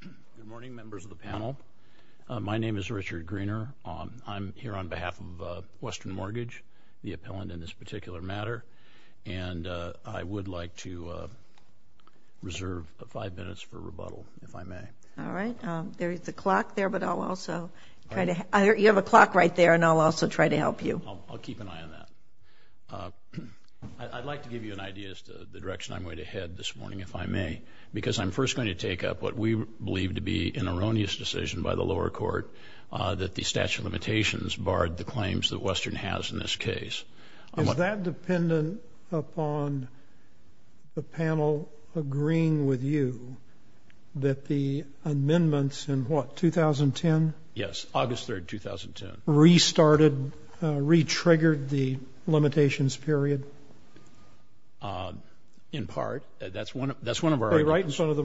Good morning, members of the panel. My name is Richard Greener. I'm here on behalf of Western Mortgage, the appellant in this particular matter, and I would like to reserve five minutes for rebuttal, if I may. All right. There is a clock there, but I'll also try to—you have a clock right there, and I'll also try to help you. I'll keep an eye on that. I'd like to give you an idea as to the direction I'm going to head this morning, if I may, because I'm first going to take up what we believe to be an erroneous decision by the lower court, that the statute of limitations barred the claims that Western has in this case. Is that dependent upon the panel agreeing with you that the amendments in, what, 2010? Yes, August 3, 2010. Restarted—retriggered the limitations period? In part. That's one of our arguments, Your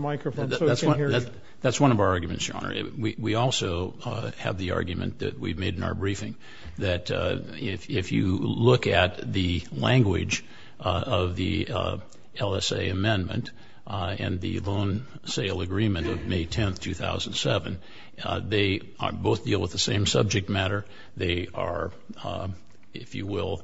Honor. We also have the argument that we've made in our briefing that if you look at the language of the LSA amendment and the loan sale agreement of May 10, 2007, they both deal with the same subject matter. They are, if you will,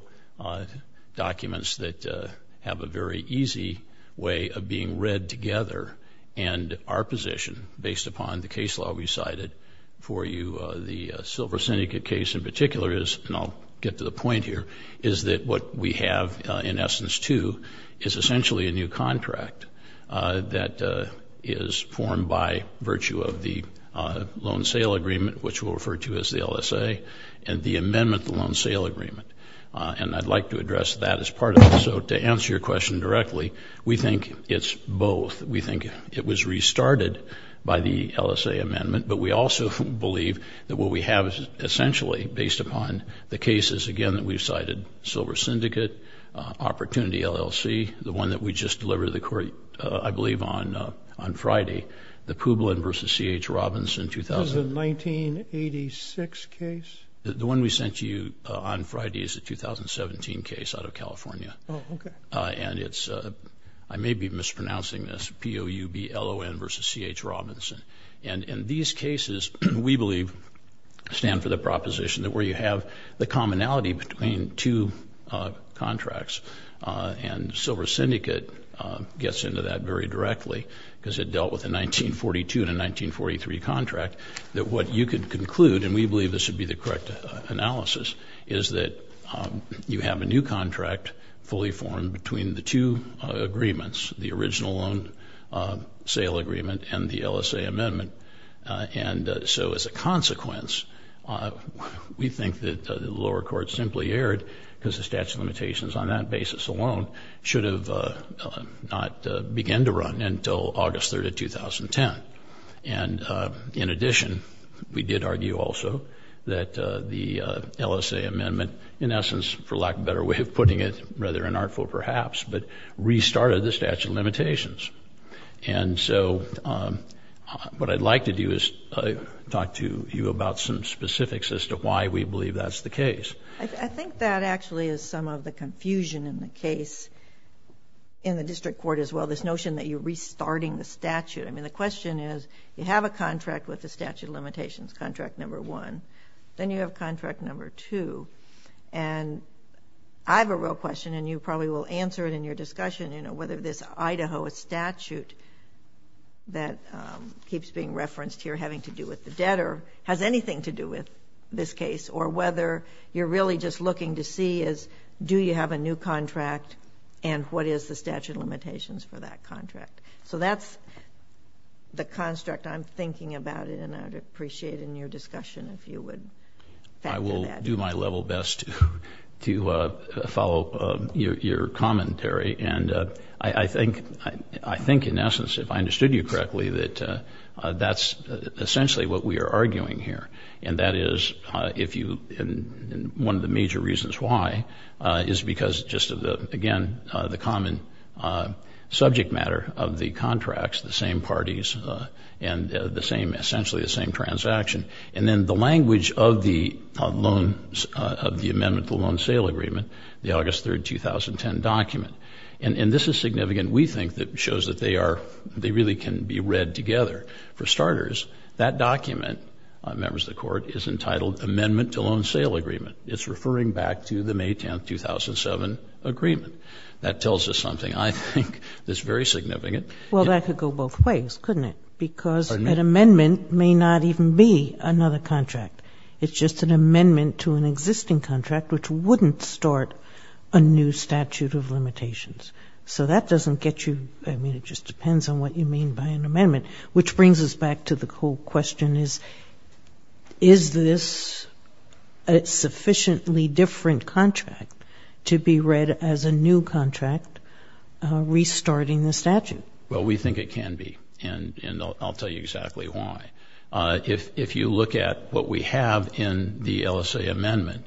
documents that have a very easy way of being read together, and our position, based upon the case law we cited for you, the Silver Syndicate case in particular is—and I'll get to the point here—is that what we have, in essence, too, is essentially a new contract that is formed by virtue of the loan sale agreement, which we'll refer to as the LSA, and the amendment to the loan sale agreement. And I'd like to address that as part of it. So to answer your question directly, we think it's both. We think it was restarted by the LSA amendment, but we also believe that what we have is essentially based upon the cases, again, that we've cited—Silver Syndicate, Opportunity, LLC, the one that we just delivered to the Court, I believe, on Friday, the Publin v. C.H. Robins in 2000. This is a 1986 case? The one we sent to you on Friday is a 2017 case out of California. Oh, okay. And it's—I may be mispronouncing this—P-O-U-B-L-O-N v. C.H. Robinson. And these cases, we believe, stand for the proposition that where you have the commonality between two contracts, and Silver Syndicate gets into that very directly, because it dealt with a 1942 and a 1943 contract, that what you could conclude—and we believe this would be the correct analysis—is that you have a new contract fully formed between the two agreements, the original loan sale agreement and the LSA amendment. And so as a consequence, we think that the lower court simply erred because the statute of limitations on that basis alone should have not began to run until August 3, 2010. And in addition, we did argue also that the LSA amendment, in essence, for lack of a better way of putting it, rather inartful perhaps, but restarted the statute of limitations. And so what I'd like to do is talk to you about some specifics as to why we believe that's the case. I think that actually is some of the confusion in the case in the district court as well, this notion that you're restarting the statute. I mean, the question is, you have a contract with the statute of limitations, contract number one. Then you have contract number two. And I have a real question, and you probably will answer it in your discussion, you know, whether this Idaho statute that keeps being referenced here having to do with the debtor has anything to do with this case, or whether you're really just looking to see is, do you have a new contract, and what is the statute of limitations for that contract? So that's the construct I'm thinking about, and I'd appreciate it in your discussion if you would factor that in. I will do my level best to follow your commentary. And I think, in essence, if I understood you correctly, that that's essentially what we are arguing here. And that is, if you, and one of the major reasons why is because just of the, again, the common subject matter of the contracts, the same parties, and the same, essentially the same transaction. And then the language of the loan, of the amendment to the loan sale agreement, the August 3, 2010 document. And this is significant, we think, that shows that they are, they really can be read together. For starters, that document, members of the court, is entitled Amendment to Loan Sale Agreement. It's referring back to the May 10, 2007 agreement. That tells us something, I think, that's very significant. Well, that could go both ways, couldn't it? Because an amendment may not even be another contract. It's just an amendment to an existing contract, which wouldn't start a new statute of limitations. So that doesn't get you, I mean, it just depends on what you mean by an amendment. Which brings us back to the whole question is, is this a sufficiently different contract to be read as a new contract, restarting the statute? Well, we think it can be. And I'll tell you exactly why. If you look at what we have in the LSA amendment,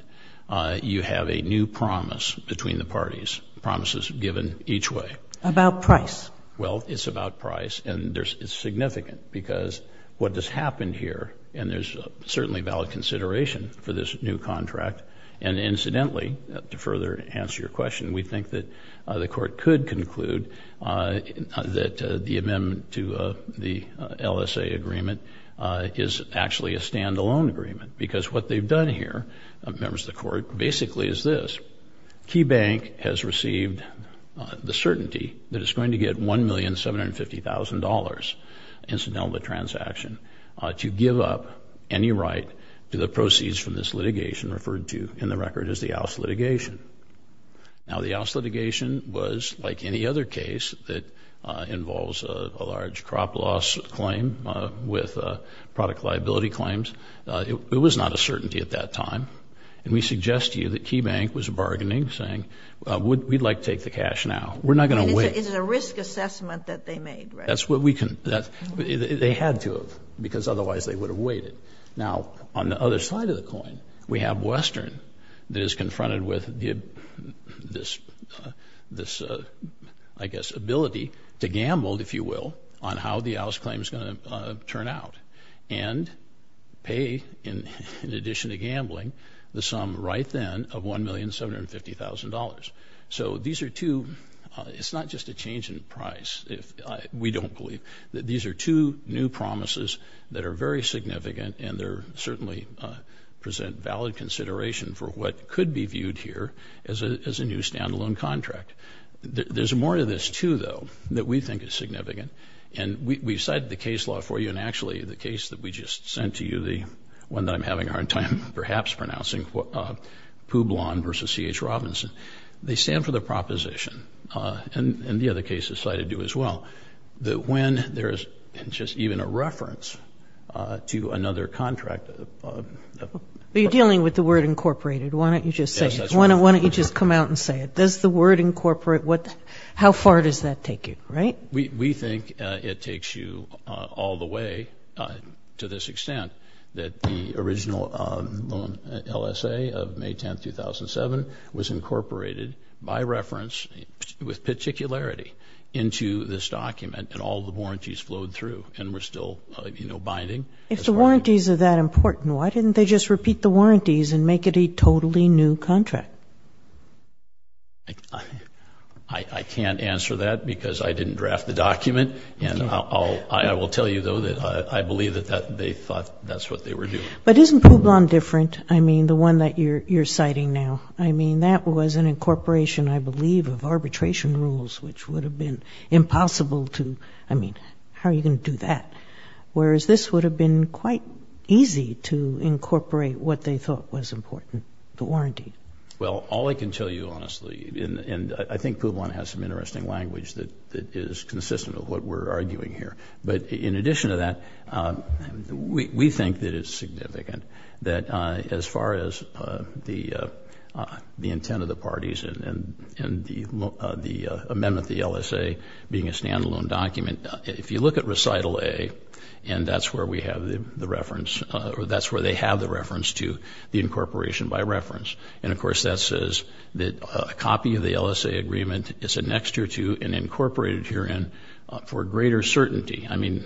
you have a new promise between the parties, promises given each way. About price. Well, it's about price. And it's significant, because what has happened here, and there's certainly valid consideration for this new contract. And incidentally, to further answer your question, we think that the court could conclude that the amendment to the LSA agreement is actually a stand-alone agreement. Because what they've done here, members of the court, basically is this. Key Bank has received the certainty that it's going to get $1,750,000 incidental in the transaction to give up any right to the proceeds from this litigation referred to in the record as the Ouse litigation. Now, the Ouse litigation was like any other case that involves a large crop loss claim with product liability claims. It was not a certainty at that time. And we suggest to you that Key Bank was bargaining, saying, we'd like to take the cash now. We're not going to wait. And it's a risk assessment that they made, right? That's what we can, they had to have, because otherwise they would have waited. Now, on the other side of the coin, we have Western that is confronted with this, I guess, ability to gamble, if you will, on how the Ouse claim is going to turn out. And pay, in addition to gambling, the sum right then of $1,750,000. So these are two, it's not just a change in price, we don't believe. These are two new promises that are very significant and they certainly present valid consideration for what could be viewed here as a new stand-alone contract. There's more to this, too, though, that we think is significant. And we've cited the case law for you, and actually the case that we just sent to you, the one that I'm having a hard time perhaps pronouncing, Poublon v. C.H. Robinson. They stand for the proposition, and the other cases cited do as well, that when there's just even a reference to another contract... But you're dealing with the word incorporated, why don't you just say it? Yes, that's right. Why don't you just come out and say it? Does the word incorporate, how far does that take you, right? We think it takes you all the way to this extent that the original loan LSA of May 10, 2007, was incorporated by reference with particularity into this document and all the warranties flowed through and were still, you know, binding. If the warranties are that important, why didn't they just repeat the warranties and make it a totally new contract? I can't answer that because I didn't draft the document, and I will tell you, though, that I believe that they thought that's what they were doing. But isn't Poublon different, I mean, the one that you're citing now? I mean, that was an incorporation, I believe, of arbitration rules, which would have been impossible to, I mean, how are you going to do that? Whereas this would have been quite easy to incorporate what they thought was important, the warranty. Well, all I can tell you, honestly, and I think Poublon has some interesting language that is consistent with what we're arguing here, but in addition to that, we think that it's significant that as far as the intent of the parties and the amendment, the LSA being a standalone document, if you look at Recital A, and that's where we have the reference, that's where they have the reference to the incorporation by reference, and of course that says that a copy of the LSA agreement is an extra to and incorporated herein for greater certainty. I mean,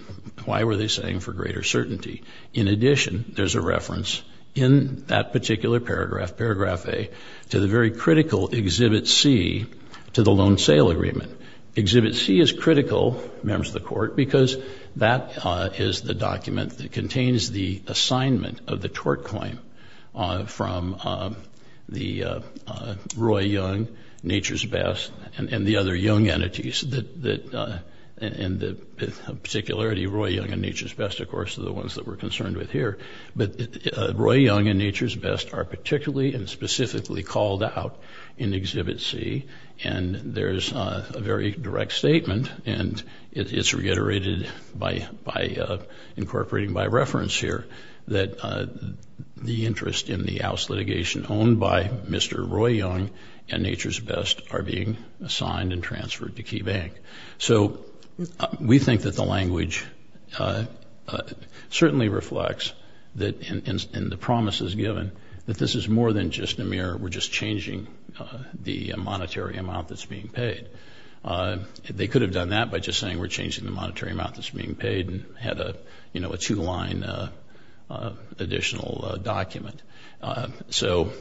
why were they saying for greater certainty? In addition, there's a reference in that particular paragraph, Paragraph A, to the very critical Exhibit C to the Loan Sale Agreement. Exhibit C is critical, members of the Court, because that is the document that contains the assignment of the tort claim from the Roy Young, Nature's Best, and the other Young entities, and the particularity of Roy Young and Nature's Best, of course, are the ones that we're concerned with here. But Roy Young and Nature's Best are particularly and specifically called out in Exhibit C, and there's a very direct statement, and it's reiterated by incorporating by reference here, that the interest in the oust litigation owned by Mr. Roy Young and Nature's Best are being assigned and transferred to Key Bank. So we think that the language certainly reflects, and the promise is given, that this is more than just a mirror. We're just changing the monetary amount that's being paid. They could have done that by just saying, we're changing the monetary amount that's being paid and had a two-line additional document. So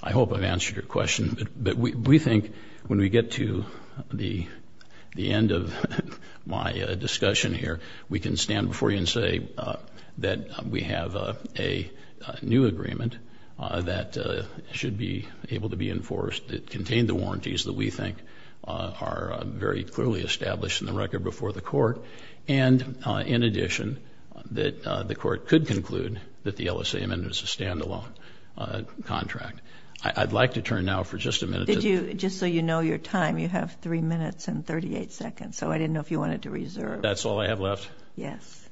I hope I've answered your question, but we think when we get to the end of my discussion here, we can stand before you and say that we have a new agreement that should be able to be enforced. It contained the warranties that we think are very clearly established in the record before the Court, and in addition, that the Court could conclude that the LSA amendment is a stand-alone contract. I'd like to turn now for just a minute to... Did you, just so you know your time, you have three minutes and 38 seconds, so I didn't know if you wanted to reserve. That's all I have left? Yes.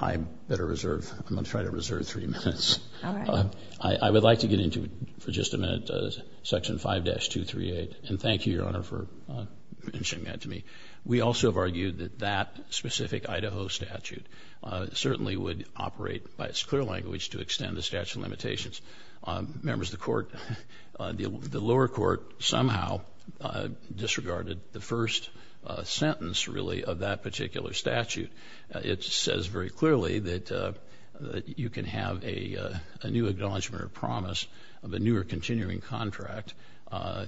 I better reserve. I'm going to try to reserve three minutes. All right. I would like to get into, for just a minute, Section 5-238, and thank you, Your Honor, for mentioning that to me. We also have argued that that specific Idaho statute certainly would operate by its clear language to extend the statute of limitations. Members of the Court, the lower court somehow disregarded the first sentence, really, of that particular statute. It says very clearly that you can have a new acknowledgment or promise of a new or continuing contract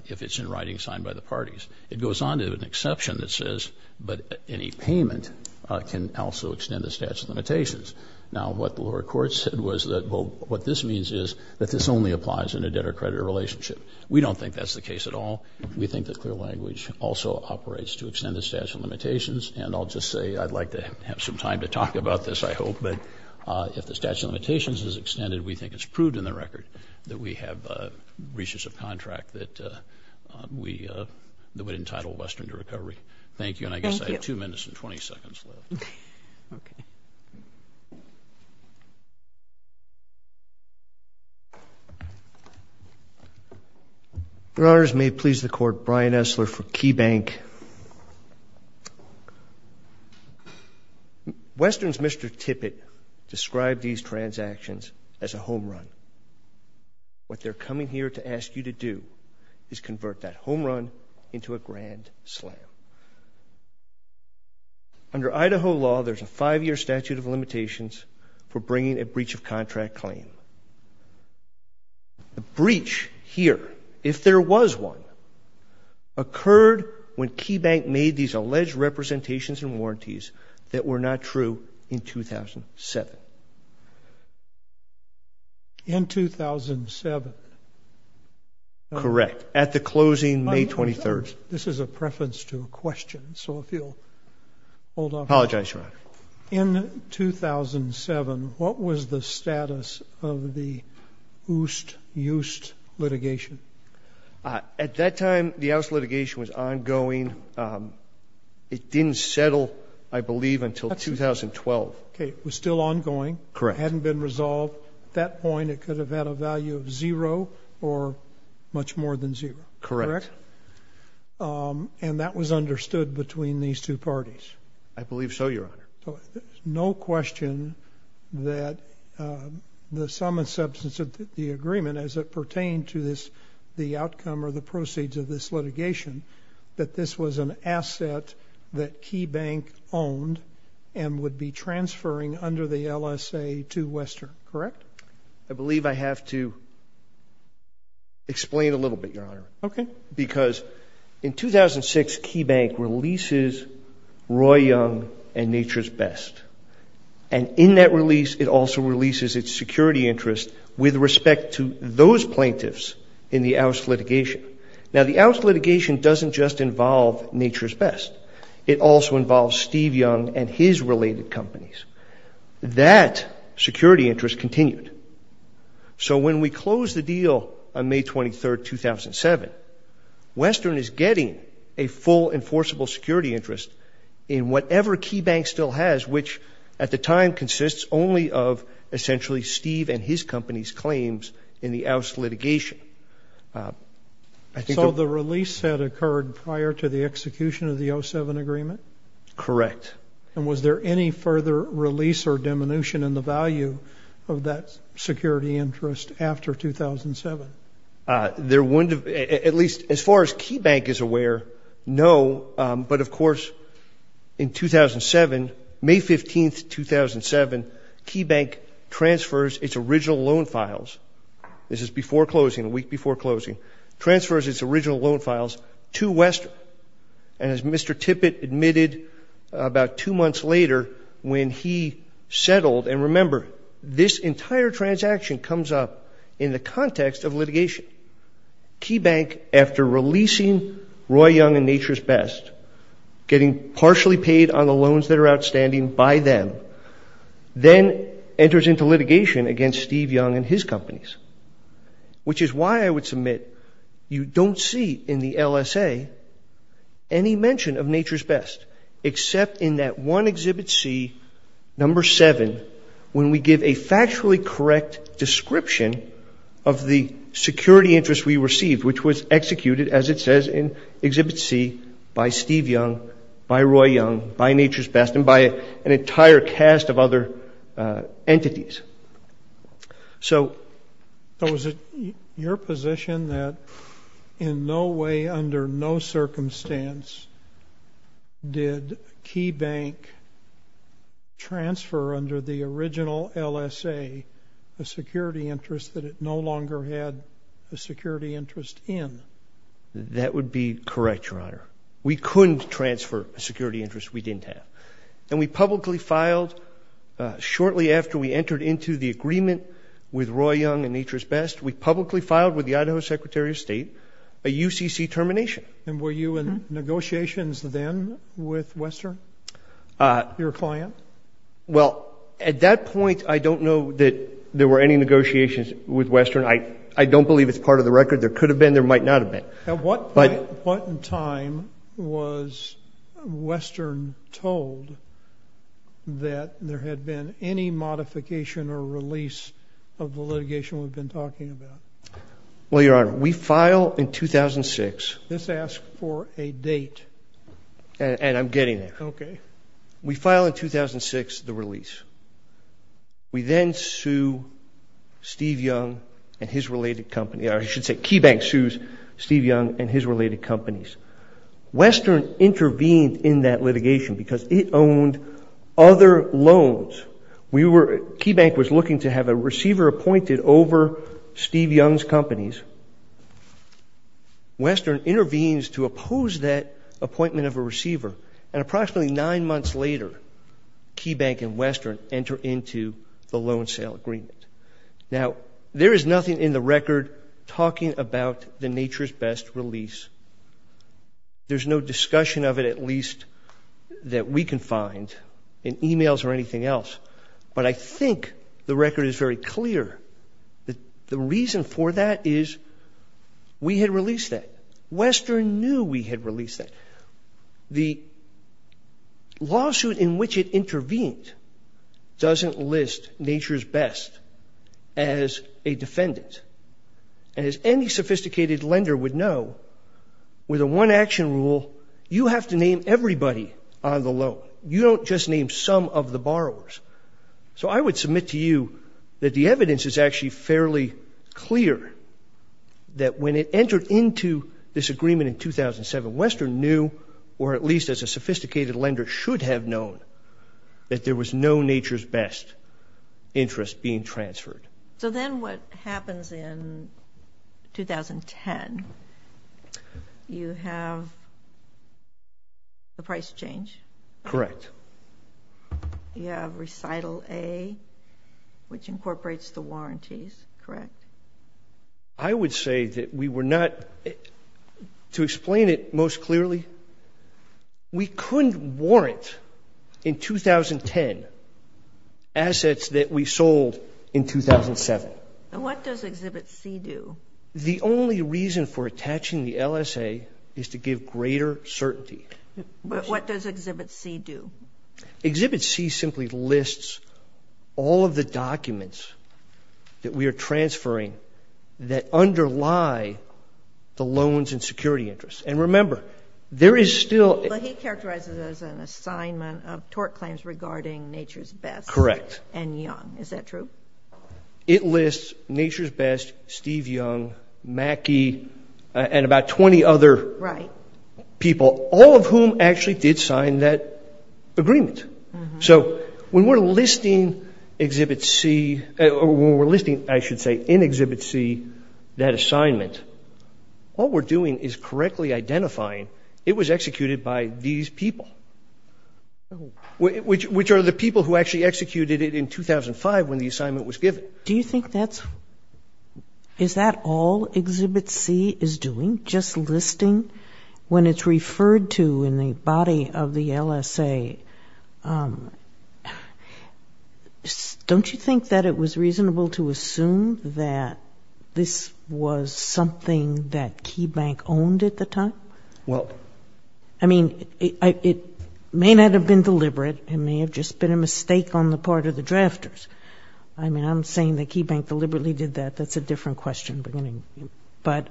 if it's in writing, signed by the parties. It goes on to an exception that says, but any payment can also extend the statute of limitations. Now, what the lower court said was that, well, what this means is that this only applies in a debtor-creditor relationship. We don't think that's the case at all. We think the clear language also operates to extend the statute of limitations, and I'll just say I'd like to have some time to talk about this, I hope, but if the statute of limitations is extended, we think it's proved in the record that we have a recessive contract that would entitle Western to recovery. Thank you, and I guess I have 2 minutes and 20 seconds left. Your Honors, may it please the Court, Brian Esler for KeyBank. Western's Mr. Tippett described these transactions as a home run. What they're coming here to ask you to do is convert that home run into a grand slam. Under Idaho law, there's a 5-year statute of limitations for bringing a breach of contract claim. A breach here, if there was one, occurred when KeyBank made these alleged representations and warranties that were not true in 2007. In 2007? Correct. At the closing, May 23rd. This is a preference to a question, so if you'll hold off on that. Apologize, Your Honor. In 2007, what was the status of the Oost-Yoost litigation? At that time, the Oost litigation was ongoing. It didn't settle, I believe, until 2012. Okay, it was still ongoing. It hadn't been resolved. At that point, it could have had a value of zero or much more than zero, correct? Correct. And that was understood between these 2 parties? I believe so, Your Honor. No question that the sum and substance of the agreement, as it pertained to the outcome or the proceeds of this litigation, that this was an asset that KeyBank owned and would be transferring under the LSA to Western, correct? I believe I have to explain a little bit, Your Honor, because in 2006, KeyBank releases Roy Young and Nature's Best. And in that release, it also releases its security interest with respect to those plaintiffs in the Oost litigation. Now, the Oost litigation doesn't just involve Nature's Best. It also involves Steve Young and his related companies. That security interest continued. So when we closed the deal on May 23, 2007, Western is getting a full enforceable security interest in whatever KeyBank still has, which at the time consists only of essentially Steve and his company's claims in the Oost litigation. So the release had occurred prior to the execution of the 07 agreement? Correct. And was there any further release or diminution in the value of that security interest after 2007? There wouldn't have, at least as far as KeyBank is aware, no. But of course, in 2007, May 15, 2007, KeyBank transfers its original loan files. This is before closing, a week before closing. Transfers its original loan files to Western. And as Mr. Tippett admitted about two months later when he settled, and remember, this entire transaction comes up in the context of litigation. KeyBank, after releasing Roy Young and Nature's Best, getting partially paid on the loans that are outstanding by them, then enters into litigation against Steve Young and his companies, which is why I would submit you don't see in the LSA any mention of Nature's Best, except in that one Exhibit C, number 7, when we give a factually correct description of the security interest we received, which was executed, as it says in Exhibit C, by Steve Young, by Roy Young, by Nature's Best, and by an entire cast of other entities. So was it your position that in no way, under no circumstance, did KeyBank transfer, under the original LSA, a security interest that it no longer had a security interest in? That would be correct, Your Honor. We couldn't transfer a security interest we didn't have. And we publicly filed, shortly after we entered into the agreement with Roy Young and Nature's Best, we publicly filed with the Idaho Secretary of State a UCC termination. And were you in negotiations then with Western, your client? Well, at that point, I don't know that there were any negotiations with Western. I don't believe it's part of the record. There could have been, there might not have been. At what point in time was Western told that there had been any modification or release of the litigation we've been talking about? Well, Your Honor, we file in 2006. This asks for a date. And I'm getting there. We file in 2006 the release. We then sue Steve Young and his related companies. Or I should say, KeyBank sues Steve Young and his related companies. Western intervened in that litigation because it owned other loans. We were, KeyBank was looking to have a receiver appointed over Steve Young's companies. Western intervenes to oppose that appointment of a receiver. And approximately nine months later, KeyBank and Western enter into the loan sale agreement. Now, there is nothing in the record talking about the Nature's Best release. There's no discussion of it, at least, that we can find in emails or anything else. But I think the record is very clear that the reason for that is we had released that. Western knew we had released that. The lawsuit in which it intervened doesn't list Nature's Best as a defendant. As any sophisticated lender would know, with a one-action rule, you have to name everybody on the loan. You don't just name some of the borrowers. So I would submit to you that the evidence is actually fairly clear that when it entered into this agreement in 2007, Western knew, or at least as a sophisticated lender should have known, that there was no Nature's Best interest being transferred. So then what happens in 2010, you have the price change? Correct. You have recital A, which incorporates the warranties, correct? Correct. I would say that we were not, to explain it most clearly, we couldn't warrant in 2010 assets that we sold in 2007. What does Exhibit C do? The only reason for attaching the LSA is to give greater certainty. What does Exhibit C do? Exhibit C simply lists all of the documents that we are transferring that underlie the loans and security interests. And remember, there is still — But he characterizes it as an assignment of tort claims regarding Nature's Best — Correct. — and Young. Is that true? It lists Nature's Best, Steve Young, Mackey, and about 20 other people, all of whom actually did sign that agreement. So when we're listing Exhibit C — or when we're listing, I should say, in Exhibit C, that assignment, all we're doing is correctly identifying it was executed by these people, which are the people who actually executed it in 2005 when the assignment was given. Do you think that's — is that all Exhibit C is doing, just listing? When it's referred to in the body of the LSA, don't you think that it was reasonable to assume that this was something that KeyBank owned at the time? Well — I mean, it may not have been deliberate. It may have just been a mistake on the part of the drafters. I mean, I'm saying that KeyBank deliberately did that. That's a different question. But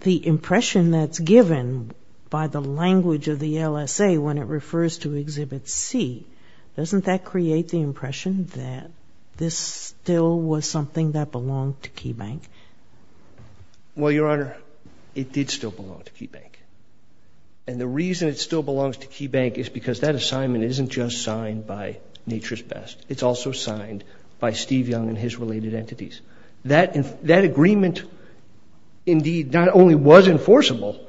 the impression that's given by the language of the LSA when it refers to Exhibit C, doesn't that create the impression that this still was something that belonged to KeyBank? Well, Your Honor, it did still belong to KeyBank. And the reason it still belongs to KeyBank is because that assignment isn't just signed by Nature's Best. It's also signed by Steve Young and his related entities. That agreement indeed not only was enforceable,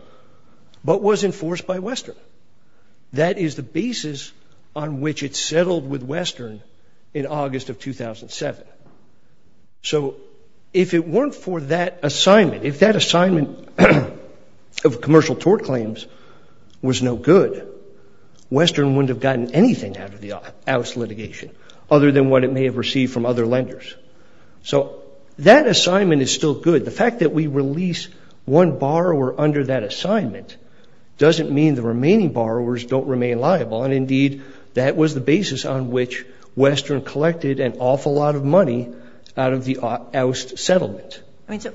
but was enforced by Western. That is the basis on which it settled with Western in August of 2007. So if it weren't for that assignment — if that assignment of commercial tort claims was no good, Western wouldn't have gotten anything out of the — out of its litigation other than what it may have received from other lenders. So that assignment is still good. The fact that we release one borrower under that assignment doesn't mean the remaining borrowers don't remain liable. And indeed, that was the basis on which Western collected an awful lot of money out of the oust settlement. I mean, so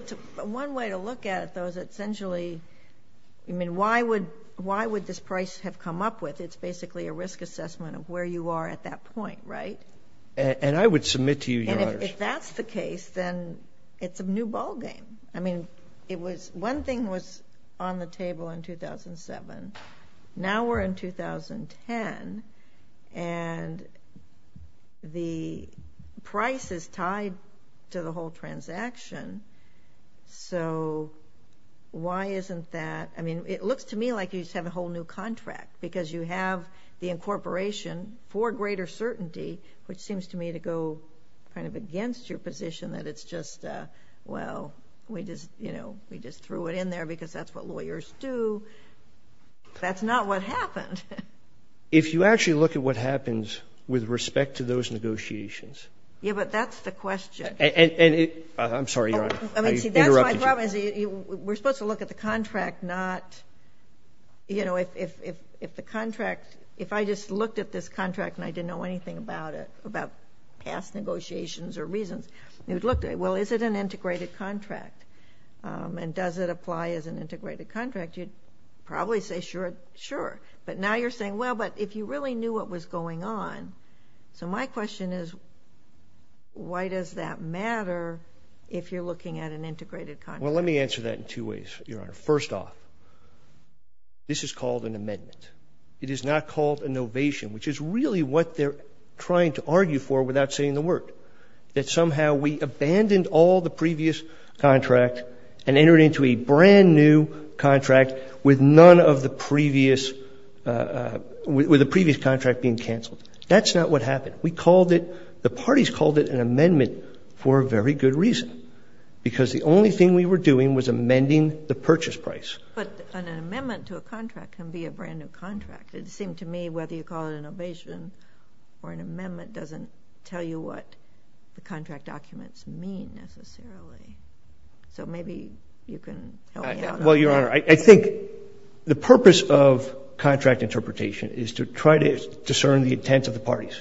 one way to look at it, though, is essentially — I mean, why would — why would this price have come up with? It's basically a risk assessment of where you are at that point, right? And I would submit to you, Your Honors — And if that's the case, then it's a new ballgame. I mean, it was — one thing was on the table in 2007. Now we're in 2010, and the price is tied to the whole transaction. So why isn't that — I mean, it looks to me like you just have a whole new contract, because you have the incorporation for greater certainty, which seems to me to go kind of against your position that it's just, well, we just, you know, we just threw it in there because that's what lawyers do. That's not what happened. If you actually look at what happens with respect to those negotiations — Yeah, but that's the question. And it — I'm sorry, Your Honor. I interrupted you. You see, that's my problem, is we're supposed to look at the contract, not, you know, if the contract — if I just looked at this contract and I didn't know anything about it, about past negotiations or reasons, you'd look at it. Well, is it an integrated contract? And does it apply as an integrated contract? You'd probably say, sure, sure. But now you're saying, well, but if you really knew what was going on — so my question is, why does that matter if you're looking at an integrated contract? Well, let me answer that in two ways, Your Honor. First off, this is called an amendment. It is not called an ovation, which is really what they're trying to argue for without saying the word, that somehow we abandoned all the previous contract and entered into a brand-new contract with none of the previous — with the previous contract being canceled. That's not what happened. We called it — the parties called it an amendment for a very good reason, because the only thing we were doing was amending the purchase price. But an amendment to a contract can be a brand-new contract. It seemed to me whether you call it an ovation or an amendment doesn't tell you what the contract documents mean, necessarily. Well, Your Honor, I think the purpose of contract interpretation is to try to discern the intent of the parties.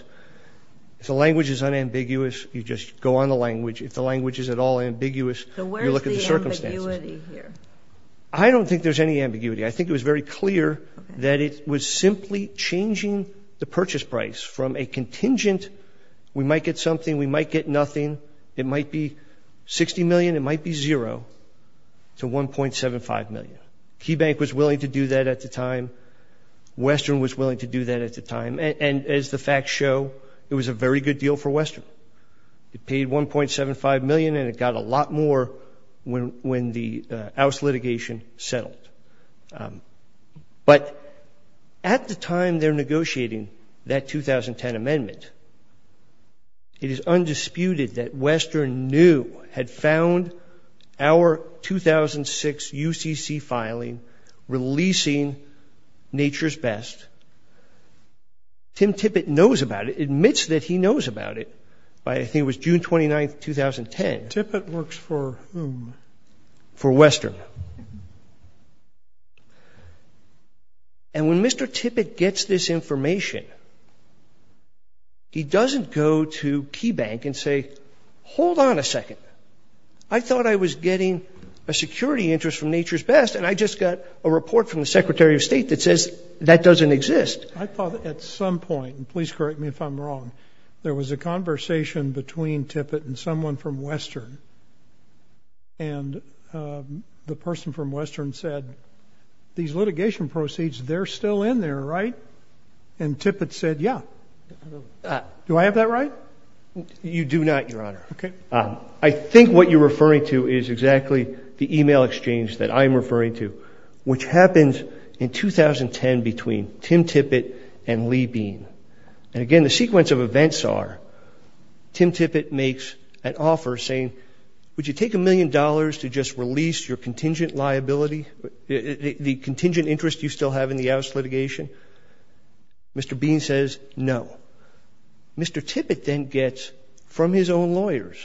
If the language is unambiguous, you just go on the language. If the language is at all ambiguous, you look at the circumstances. So where's the ambiguity here? I don't think there's any ambiguity. I think it was very clear that it was simply changing the purchase price from a contingent — we might get something, we might get nothing. It might be $60 million, it might be $0 to $1.75 million. KeyBank was willing to do that at the time. Western was willing to do that at the time. And as the facts show, it was a very good deal for Western. It paid $1.75 million, and it got a lot more when the House litigation settled. But at the time they're negotiating that 2010 amendment, it is undisputed that Western knew, had found our 2006 UCC filing, releasing Nature's Best. Tim Tippett knows about it, admits that he knows about it, by I think it was June 29th, 2010. Tippett works for whom? For Western. And when Mr. Tippett gets this information, he doesn't go to KeyBank and say, hold on a second, I thought I was getting a security interest from Nature's Best, and I just got a report from the Secretary of State that says that doesn't exist. I thought at some point, and please correct me if I'm wrong, there was a conversation between Tippett and someone from Western. And the person from Western said, these litigation proceeds, they're still in there, right? And Tippett said, yeah. Do I have that right? You do not, Your Honor. I think what you're referring to is exactly the email exchange that I'm referring to, which happens in 2010 between Tim Tippett and Lee Bean. And again, the sequence of Tim Tippett makes an offer saying, would you take a million dollars to just release your contingent liability, the contingent interest you still have in the oust litigation? Mr. Bean says no. Mr. Tippett then gets, from his own lawyers,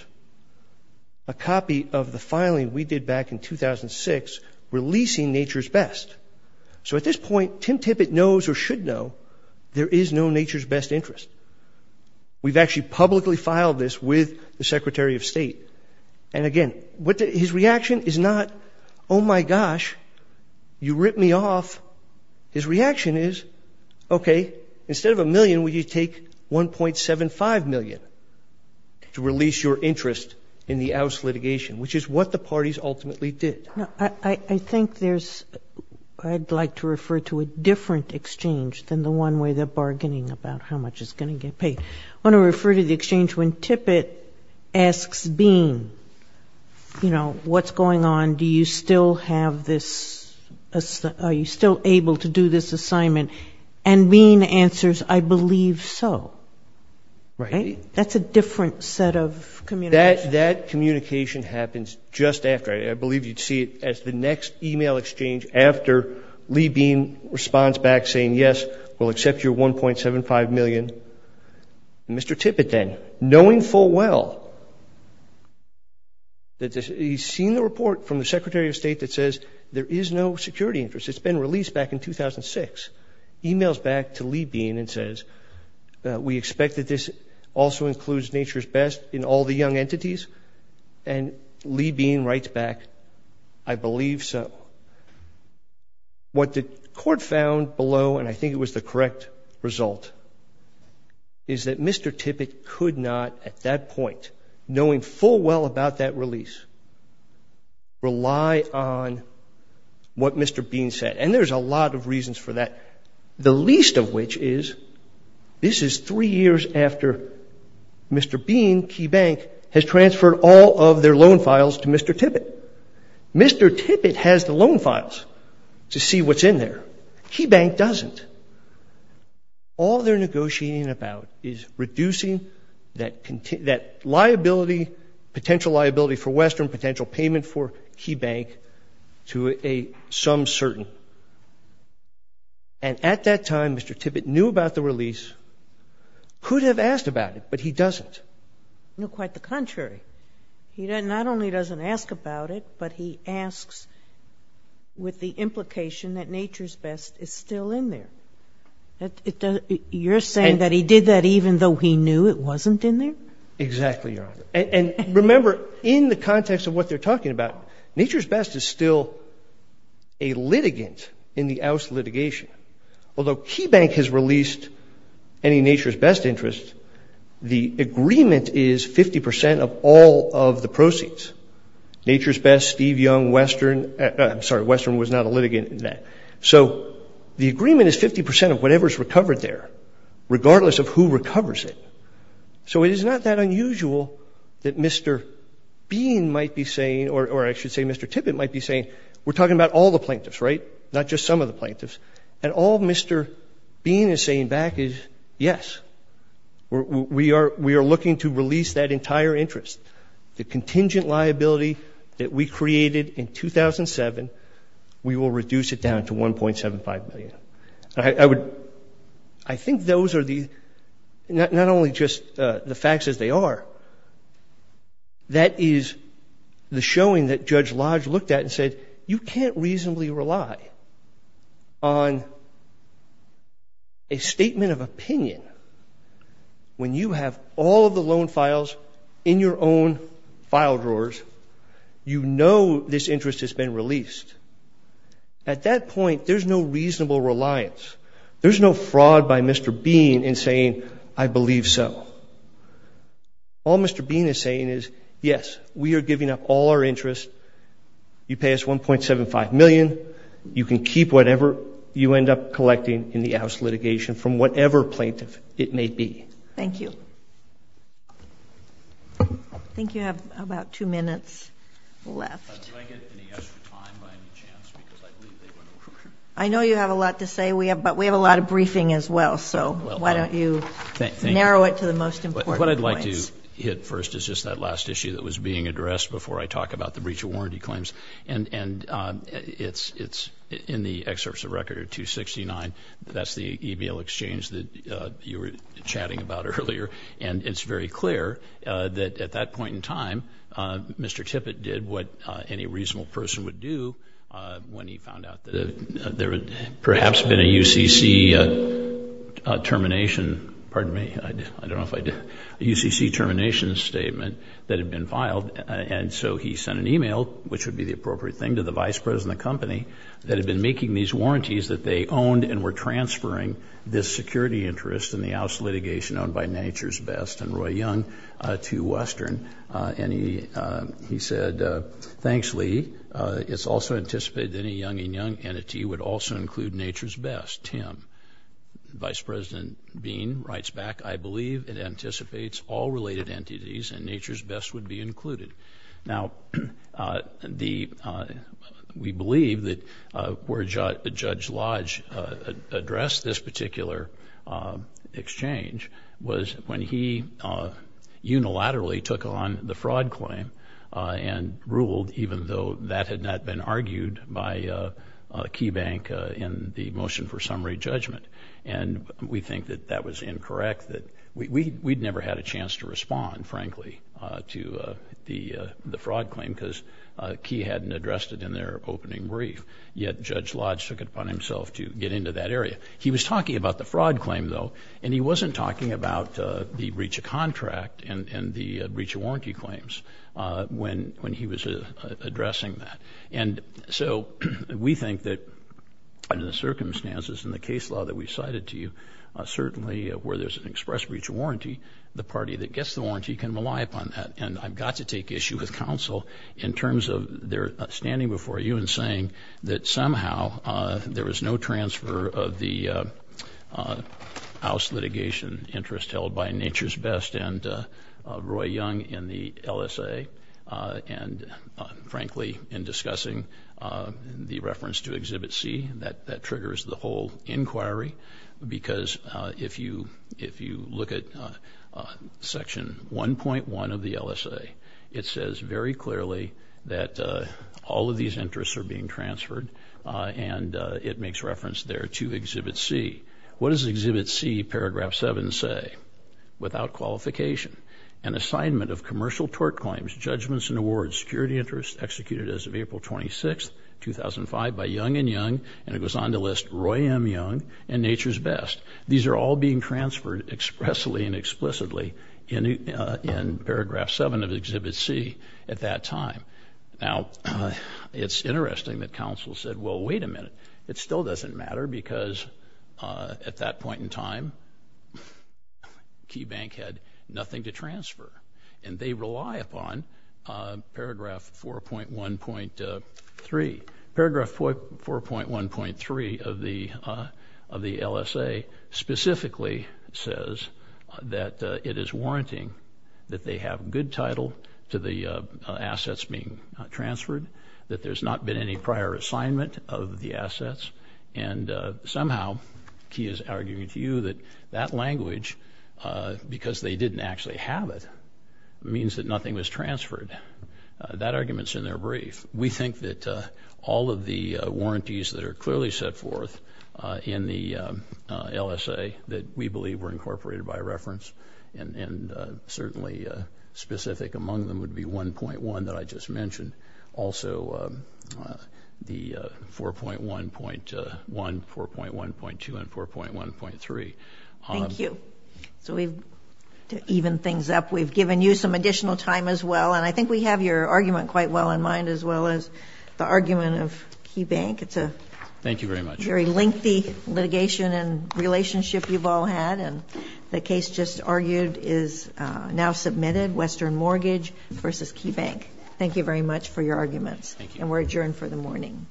a copy of the filing we did back in 2006 releasing Nature's Best. So at this point, Tim Tippett knows or should know there is no Nature's Best interest. We've actually publicly filed this with the Secretary of State. And again, his reaction is not, oh my gosh, you ripped me off. His reaction is, okay, instead of a million, would you take 1.75 million to release your interest in the oust litigation, which is what the parties ultimately did. I think there's, I'd like to refer to a different exchange than the one where they're bargaining about how much is going to get paid. I want to refer to the exchange when Tippett asks Bean, you know, what's going on? Do you still have this, are you still able to do this assignment? And Bean answers, I believe so. That's a different set of communication. That communication happens just after. I believe you'd see it as the next email exchange after Lee Bean responds back saying, yes, we'll accept your 1.75 million. Mr. Tippett then, knowing full well that he's seen the report from the Secretary of State that says there is no security interest. It's been released back in 2006. Emails back to Lee Bean and says, we expect that this also includes Nature's Best in all the young entities. And Lee Bean writes back, I believe so. What the court found below, and I think it was the correct result, is that Mr. Tippett could not, at that point, knowing full well about that release, rely on what Mr. Bean said. And there's a lot of reasons for that. The least of which is, this is three years after Mr. Bean, Key Bank, has transferred all of their loan files to Mr. Tippett. Mr. Tippett has the loan files to see what's in there. Key Bank doesn't. All they're negotiating about is reducing that liability, potential liability for Western, potential payment for Key Bank to a some certain. And at that time, Mr. Tippett knew about the release, could have asked about it, but he doesn't. You know, quite the contrary. He not only doesn't ask about it, but he asks with the implication that Nature's Best is still in there. You're saying that he did that even though he knew it wasn't in there? Exactly, Your Honor. And remember, in the context of what they're talking about, Nature's Best is still a litigant in the Ouse litigation. Although Key Bank has released any Nature's Best interest, the agreement is 50% of all of the proceeds. Nature's Best, Steve Young, Western, I'm sorry, Western was not a litigant in that. So the agreement is 50% of whatever is recovered there, regardless of who recovers it. So it is not that unusual that Mr. Bean might be saying, or I should say Mr. Tippett might be saying, we're talking about all the plaintiffs, right? Not just some of the plaintiffs. And all Mr. Bean is saying back is, yes, we are looking to release that entire interest. The contingent liability that we created in I think those are the, not only just the facts as they are, that is the showing that Judge Lodge looked at and said, you can't reasonably rely on a statement of opinion when you have all of the loan files in your own file drawers. You know this interest has been released. At that point, there's no reasonable reliance. There's no fraud by Mr. Bean in saying, I believe so. All Mr. Bean is saying is, yes, we are giving up all our interest. You pay us $1.75 million. You can keep whatever you end up collecting in the Ouse litigation from whatever plaintiff it may be. Thank you. I think you have about two minutes left. Do I get any extra time by any chance? Because I believe they went over. I know you have a lot to say, but we have a lot of briefing as well. So why don't you narrow it to the most important points. What I'd like to hit first is just that last issue that was being addressed before I talk about the breach of warranty claims. And it's in the excerpts of Record 269. That's the EBL exchange that you were chatting about earlier. And it's very clear that at that point, any reasonable person would do when he found out that there had perhaps been a UCC termination, pardon me, I don't know if I did, a UCC termination statement that had been filed. And so he sent an email, which would be the appropriate thing, to the vice president of the company that had been making these warranties that they owned and were transferring this security interest in the Ouse litigation owned by Nature's Best and Thanks, Lee. It's also anticipated that any young and young entity would also include Nature's Best, Tim. Vice President Bean writes back, I believe it anticipates all related entities and Nature's Best would be included. Now, we believe that where Judge Lodge addressed this particular exchange was when he unilaterally took on the fraud claim and ruled, even though that had not been argued by Key Bank in the motion for summary judgment. And we think that that was incorrect, that we'd never had a chance to respond, frankly, to the fraud claim because Key hadn't addressed it in their opening brief. Yet Judge Lodge took it upon himself to get into that area. He was talking about the fraud claim, though, and he wasn't talking about the breach of contract and the breach of warranty claims when he was addressing that. And so we think that under the circumstances and the case law that we cited to you, certainly where there's an express breach of warranty, the party that gets the warranty can rely upon that. And I've got to take issue with counsel in terms of their transfer of the house litigation interest held by Nature's Best and Roy Young in the LSA. And frankly, in discussing the reference to Exhibit C, that that triggers the whole inquiry. Because if you if you look at Section 1.1 of the LSA, it says very clearly that all of these interests are being transferred, and it makes reference there to Exhibit C. What does Exhibit C, Paragraph 7, say? Without qualification. An assignment of commercial tort claims, judgments and awards, security interest executed as of April 26, 2005 by Young and Young, and it goes on to list Roy M. Young and Nature's Best. These are all being transferred expressly and explicitly in Paragraph 7 of Exhibit C at that time. Now, it's interesting that counsel said, well, wait a minute. It still doesn't matter, because at that point in time, Key Bank had nothing to transfer. And they rely upon Paragraph 4.1.3. Paragraph 4.1.3 of the of the LSA specifically says that it is warranting that they have good title to the assets being transferred, that there's not been any prior assignment of the assets. And somehow, Key is arguing to you that that language, because they didn't actually have it, means that nothing was transferred. That argument's in their brief. We think that all of the warranties that are clearly set forth in the LSA that we believe were specific among them would be 1.1 that I just mentioned. Also, the 4.1.1, 4.1.2, and 4.1.3. Thank you. So we've evened things up. We've given you some additional time as well. And I think we have your argument quite well in mind, as well as the argument of Key Bank. It's a very lengthy litigation and relationship you've all had. And the case just argued is now submitted, Western Mortgage v. Key Bank. Thank you very much for your arguments. And we're adjourned for the morning.